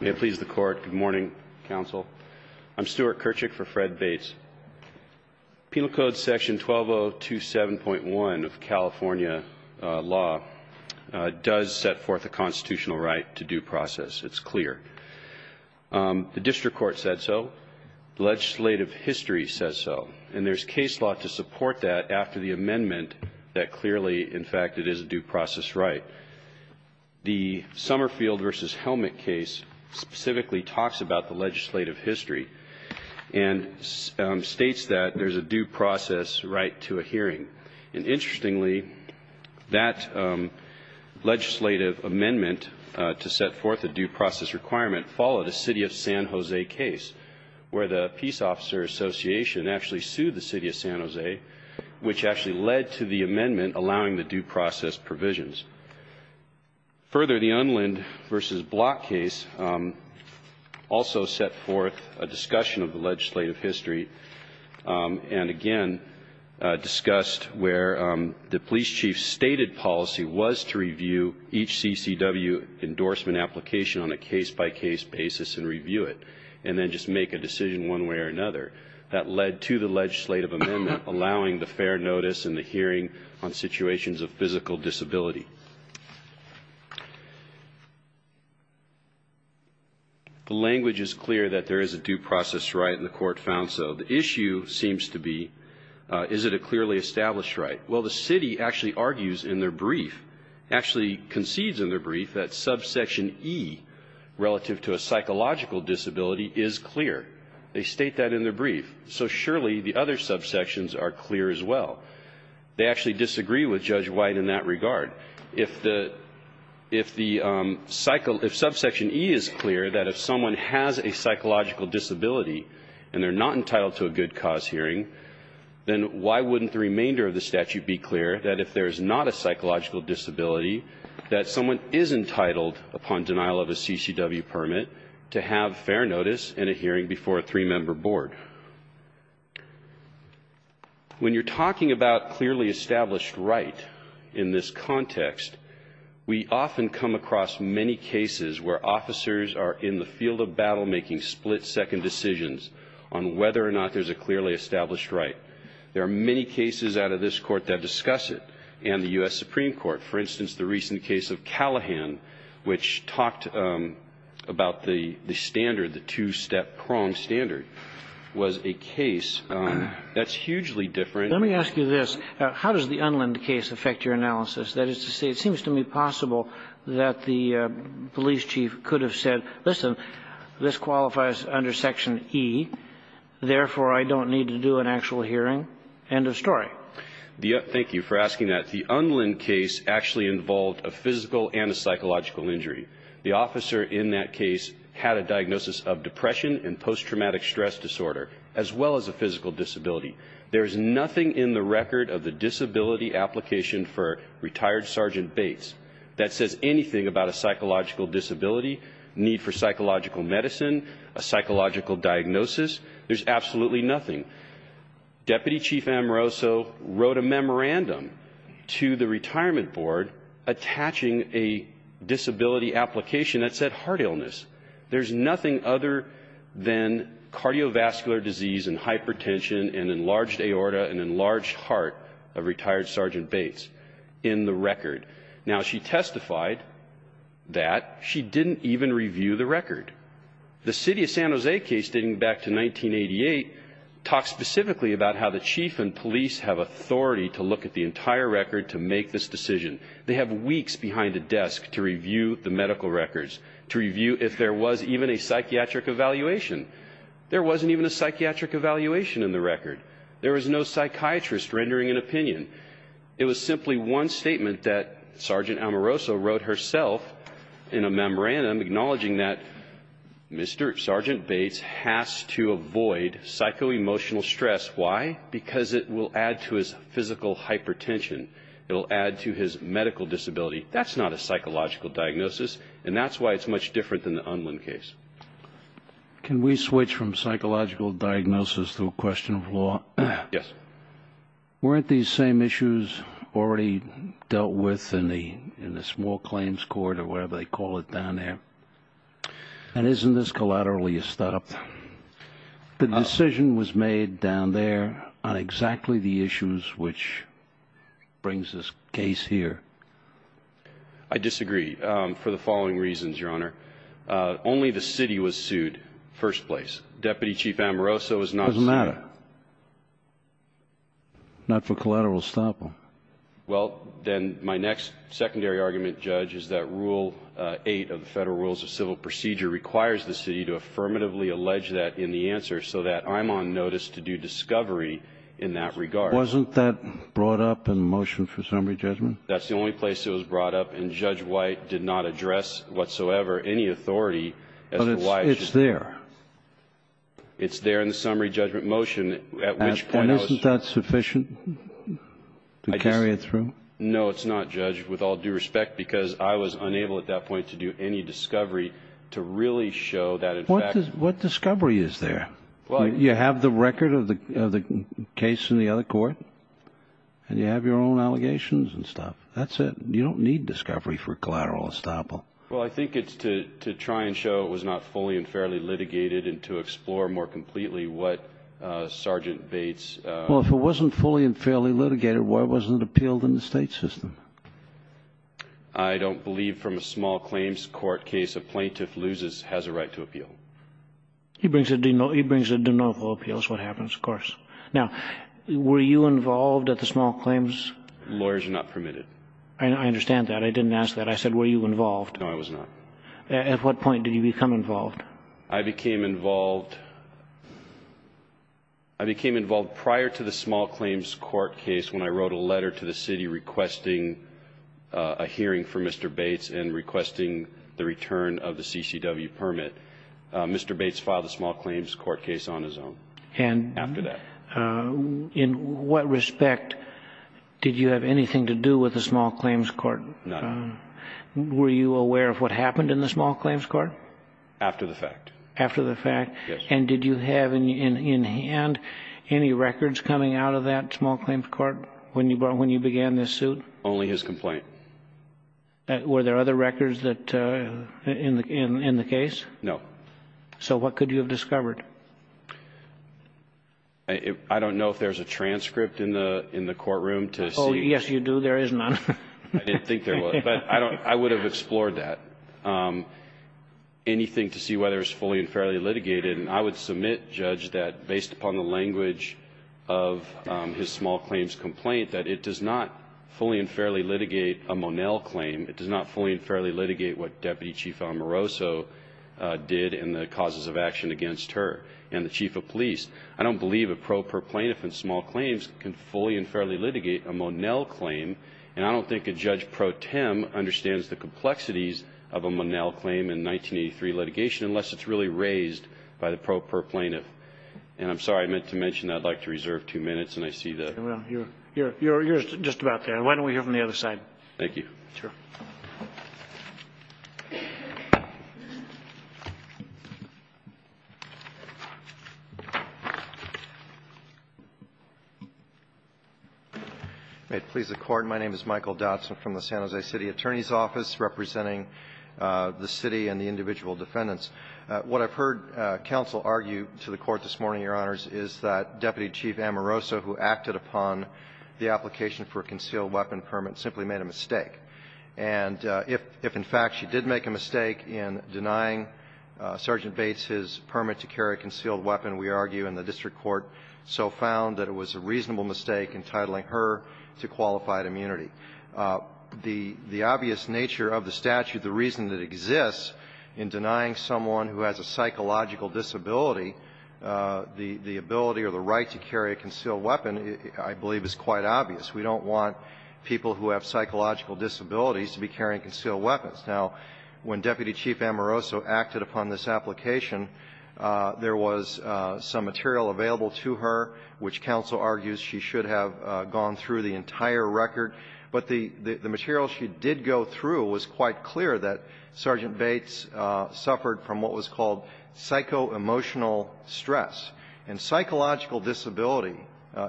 May it please the Court. Good morning, Counsel. I'm Stuart Kirchick for Fred Bates. Penal Code Section 12027.1 of California law does set forth a constitutional right to due process. It's clear. The district court said so. Legislative history says so. And there's case law to support that after the amendment that clearly, in fact, it is a due process right. But the Summerfield v. Helmet case specifically talks about the legislative history and states that there's a due process right to a hearing. And interestingly, that legislative amendment to set forth a due process requirement followed a City of San Jose case, where the Peace Officer Association actually sued the City of San Jose, which actually led to the amendment allowing the due process provisions. Further, the Unland v. Block case also set forth a discussion of the legislative history and, again, discussed where the police chief's stated policy was to review each CCW endorsement application on a case-by-case basis and review it and then just make a decision one way or another. That led to the legislative amendment allowing the fair notice and the hearing on situations of physical disability. The language is clear that there is a due process right, and the Court found so. The issue seems to be, is it a clearly established right? Well, the City actually argues in their brief, actually concedes in their brief that subsection E relative to a psychological disability is clear. They state that in their brief. So surely the other subsections are clear as well. They actually disagree with Judge White in that regard. If the subsection E is clear, that if someone has a psychological disability and they're not entitled to a good cause hearing, then why wouldn't the remainder of the statute be clear that if there's not a psychological disability, that someone is entitled upon denial of a CCW permit to have fair notice and a hearing before a three-member board? When you're talking about clearly established right in this context, we often come across many cases where officers are in the field of battle making split-second decisions on whether or not there's a clearly established right. There are many cases out of this Court that discuss it, and the U.S. Supreme Court. For instance, the recent case of Callahan, which talked about the standard, the two-step prong standard, was a case that's hugely different. Let me ask you this. How does the Unlind case affect your analysis? That is to say, it seems to me possible that the police chief could have said, listen, this qualifies under Section E. Therefore, I don't need to do an actual hearing. End of story. Thank you for asking that. The Unlind case actually involved a physical and a psychological injury. The officer in that case had a diagnosis of depression and post-traumatic stress disorder, as well as a physical disability. There is nothing in the record of the disability application for retired Sergeant Bates that says anything about a psychological disability, need for psychological medicine, a psychological diagnosis. There's absolutely nothing. Deputy Chief Amoroso wrote a memorandum to the retirement board attaching a disability application that said heart illness. There's nothing other than cardiovascular disease and hypertension and enlarged aorta and enlarged heart of retired Sergeant Bates in the record. Now, she testified that she didn't even review the record. The city of San Jose case dating back to 1988 talked specifically about how the chief and police have authority to look at the entire record to make this decision. They have weeks behind a desk to review the medical records, to review if there was even a psychiatric evaluation. There wasn't even a psychiatric evaluation in the record. There was no psychiatrist rendering an opinion. It was simply one statement that Sergeant Amoroso wrote herself in a memorandum acknowledging that Mr. Sergeant Bates has to avoid psychoemotional stress. Why? Because it will add to his physical hypertension. It will add to his medical disability. That's not a psychological diagnosis, and that's why it's much different than the Unwin case. Can we switch from psychological diagnosis to a question of law? Yes. Weren't these same issues already dealt with in the small claims court or whatever they call it down there? And isn't this collaterally a start-up? The decision was made down there on exactly the issues which brings this case here. I disagree for the following reasons, Your Honor. Only the city was sued first place. Deputy Chief Amoroso was not sued. Doesn't matter. Not for collateral estoppel. Well, then, my next secondary argument, Judge, is that Rule 8 of the Federal Rules of Civil Procedure requires the city to affirmatively allege that in the answer so that I'm on notice to do discovery in that regard. Wasn't that brought up in the motion for summary judgment? That's the only place it was brought up, and Judge White did not address whatsoever any authority as to why it should be. But it's there. It's there in the summary judgment motion, at which point I was. Isn't that sufficient to carry it through? No, it's not, Judge, with all due respect, because I was unable at that point to do any discovery to really show that in fact. What discovery is there? You have the record of the case in the other court, and you have your own allegations and stuff. That's it. You don't need discovery for collateral estoppel. Well, I think it's to try and show it was not fully and fairly litigated and to explore more completely what Sergeant Bates. Well, if it wasn't fully and fairly litigated, why wasn't it appealed in the state system? I don't believe from a small claims court case a plaintiff loses has a right to appeal. He brings a de novo appeal is what happens, of course. Now, were you involved at the small claims? Lawyers are not permitted. I understand that. I didn't ask that. I said were you involved. No, I was not. At what point did you become involved? I became involved prior to the small claims court case when I wrote a letter to the city requesting a hearing for Mr. Bates and requesting the return of the CCW permit. Mr. Bates filed the small claims court case on his own after that. In what respect did you have anything to do with the small claims court? None. Were you aware of what happened in the small claims court? After the fact. After the fact? Yes. And did you have in hand any records coming out of that small claims court when you began this suit? Only his complaint. Were there other records in the case? No. So what could you have discovered? I don't know if there's a transcript in the courtroom to see. Oh, yes, you do. There is none. I didn't think there was. But I would have explored that. Anything to see whether it was fully and fairly litigated. And I would submit, Judge, that based upon the language of his small claims complaint, that it does not fully and fairly litigate a Monell claim. It does not fully and fairly litigate what Deputy Chief Amoroso did in the causes of action against her and the chief of police. I don't believe a pro per plaintiff in small claims can fully and fairly litigate a Monell claim. And I don't think a Judge Pro Tem understands the complexities of a Monell claim in 1983 litigation unless it's really raised by the pro per plaintiff. And I'm sorry, I meant to mention I'd like to reserve two minutes, and I see that. You're just about there. Why don't we hear from the other side? Thank you. Sure. May it please the Court. My name is Michael Dodson from the San Jose City Attorney's Office representing the City and the individual defendants. What I've heard counsel argue to the Court this morning, Your Honors, is that Deputy Chief Amoroso, who acted upon the application for a concealed weapon permit, simply made a mistake. And if in fact she did make a mistake in denying Sergeant Bates his permit to carry a concealed weapon, we argue in the district court so found that it was a reasonable mistake entitling her to qualified immunity. The obvious nature of the statute, the reason that exists in denying someone who has a psychological disability the ability or the right to carry a concealed weapon, I believe is quite obvious. We don't want people who have psychological disabilities to be carrying concealed weapons. Now, when Deputy Chief Amoroso acted upon this application, there was some material available to her which counsel argues she should have gone through the entire record. But the material she did go through was quite clear that Sergeant Bates suffered from what was called psychoemotional stress. And psychological disability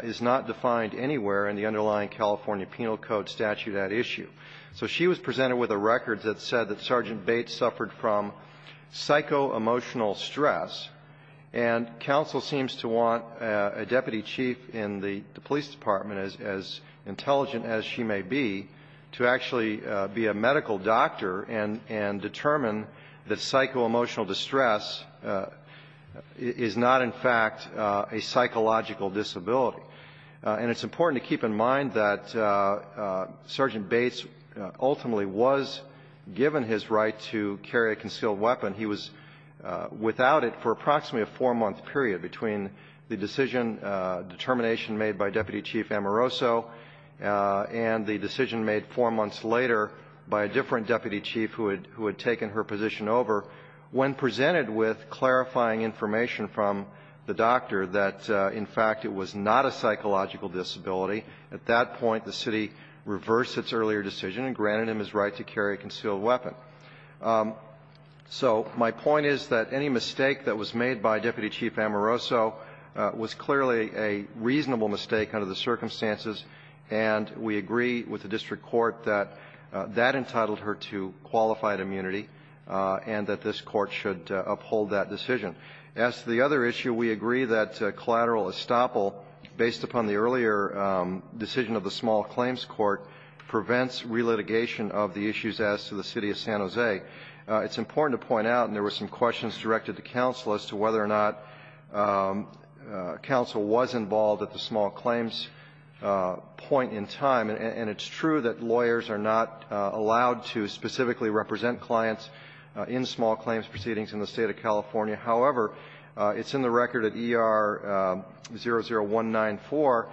is not defined anywhere in the underlying California Penal Code statute at issue. So she was presented with a record that said that Sergeant Bates suffered from psychoemotional stress. And counsel seems to want a deputy chief in the police department, as intelligent as she may be, to actually be a medical doctor and determine that psychoemotional distress is not, in fact, a psychological disability. And it's important to keep in mind that Sergeant Bates ultimately was given his right to carry a concealed weapon. He was without it for approximately a four-month period between the decision, determination made by Deputy Chief Amoroso and the decision made four months later by a different deputy chief who had taken her position over when presented with clarifying information from the doctor that, in fact, it was not a psychological disability. At that point, the city reversed its earlier decision and granted him his right to carry a concealed weapon. So my point is that any mistake that was made by Deputy Chief Amoroso was clearly a reasonable mistake under the circumstances. And we agree with the district court that that entitled her to qualified immunity and that this court should uphold that decision. As to the other issue, we agree that collateral estoppel, based upon the earlier decision of the Small Claims Court, prevents relitigation of the issues as to the city of San Jose. It's important to point out, and there were some questions directed to counsel as to whether or not counsel was involved at the small claims point in time. And it's true that lawyers are not allowed to specifically represent clients in small claims proceedings in the State of California. However, it's in the record at ER00194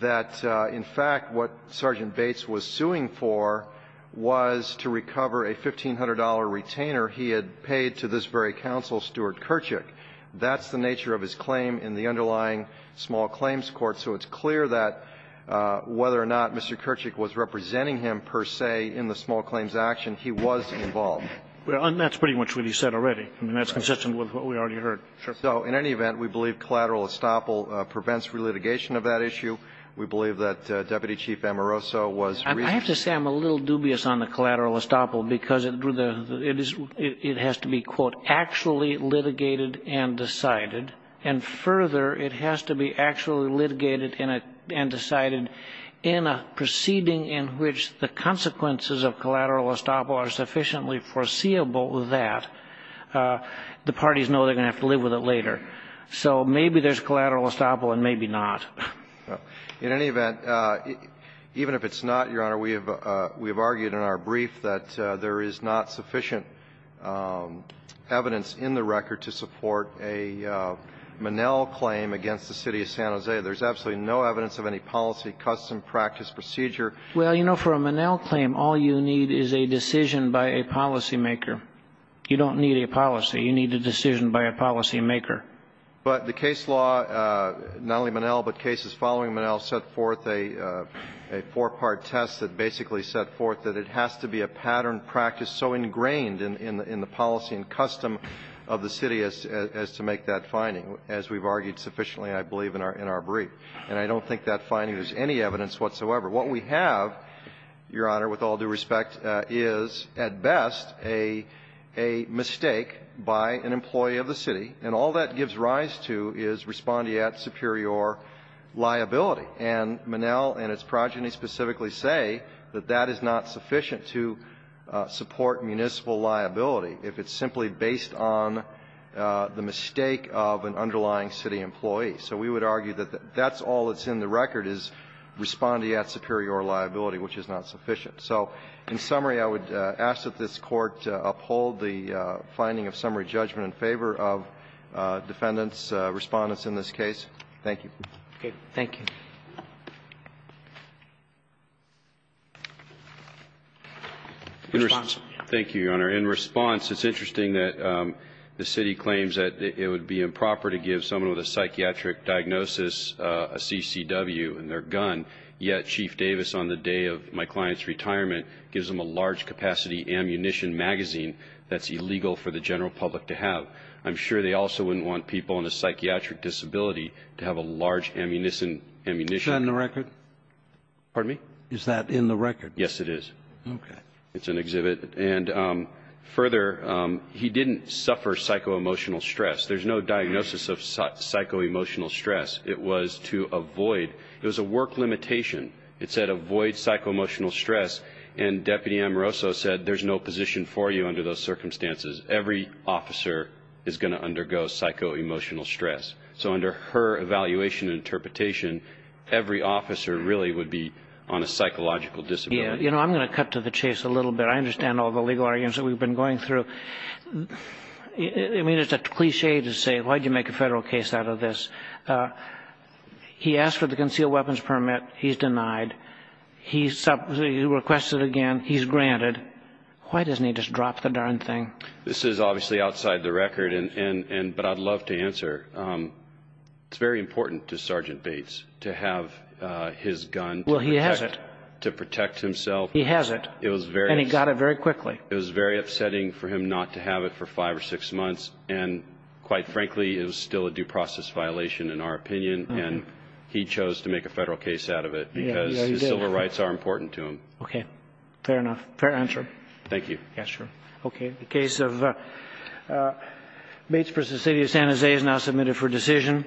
that, in fact, what Sergeant Bates was suing for was to recover a $1,500 retainer he had paid to this very counsel, Stuart That's the nature of his claim in the underlying Small Claims Court, so it's clear that whether or not Mr. Kerchick was representing him, per se, in the small claims action, he was involved. And that's pretty much what he said already. I mean, that's consistent with what we already heard. So in any event, we believe collateral estoppel prevents relitigation of that issue. We believe that Deputy Chief Amoroso was reasonable. I have to say I'm a little dubious on the collateral estoppel because it drew the conclusion that it has to be, quote, actually litigated and decided, and further, it has to be actually litigated and decided in a proceeding in which the consequences of collateral estoppel are sufficiently foreseeable that the parties know they're going to have to live with it later. So maybe there's collateral estoppel and maybe not. In any event, even if it's not, Your Honor, we have argued in our brief that there is not sufficient evidence in the record to support a Monell claim against the City of San Jose. There's absolutely no evidence of any policy, custom, practice, procedure. Well, you know, for a Monell claim, all you need is a decision by a policymaker. You don't need a policy. You need a decision by a policymaker. But the case law, not only Monell, but cases following Monell, set forth a four-part test that basically set forth that it has to be a pattern practice so ingrained in the policy and custom of the city as to make that finding. As we've argued sufficiently, I believe, in our brief. And I don't think that finding is any evidence whatsoever. What we have, Your Honor, with all due respect, is at best a mistake by an employee of the city, and all that gives rise to is respondeat superior liability. And Monell and its progeny specifically say that that is not sufficient to support municipal liability if it's simply based on the mistake of an underlying city employee. So we would argue that that's all that's in the record is respondeat superior liability, which is not sufficient. So in summary, I would ask that this Court uphold the finding of summary judgment in favor of defendants, Respondents in this case. Thank you. Thank you. In response. Thank you, Your Honor. In response, it's interesting that the city claims that it would be improper to give someone with a psychiatric diagnosis a CCW in their gun, yet Chief Davis on the day of my client's retirement gives them a large-capacity ammunition magazine that's illegal for the general public to have. I'm sure they also wouldn't want people on a psychiatric disability to have a large ammunition. Is that in the record? Pardon me? Is that in the record? Yes, it is. Okay. It's an exhibit. And further, he didn't suffer psychoemotional stress. There's no diagnosis of psychoemotional stress. It was to avoid. It was a work limitation. It said avoid psychoemotional stress, and Deputy Amoroso said there's no position for you under those circumstances. Every officer is going to undergo psychoemotional stress. So under her evaluation and interpretation, every officer really would be on a psychological disability. Yeah. You know, I'm going to cut to the chase a little bit. I understand all the legal arguments that we've been going through. I mean, it's a cliché to say, why did you make a federal case out of this? He asked for the concealed weapons permit. He's denied. He requested again. He's granted. Why doesn't he just drop the darn thing? This is obviously outside the record, but I'd love to answer. It's very important to Sergeant Bates to have his gun. Well, he has it. To protect himself. He has it, and he got it very quickly. It was very upsetting for him not to have it for five or six months, and quite frankly, it was still a due process violation in our opinion, and he chose to make a federal case out of it because his civil rights are important to him. Okay. Fair enough. Fair answer. Thank you. Yes, sir. Okay. The case of Bates v. City of San Jose is now submitted for decision.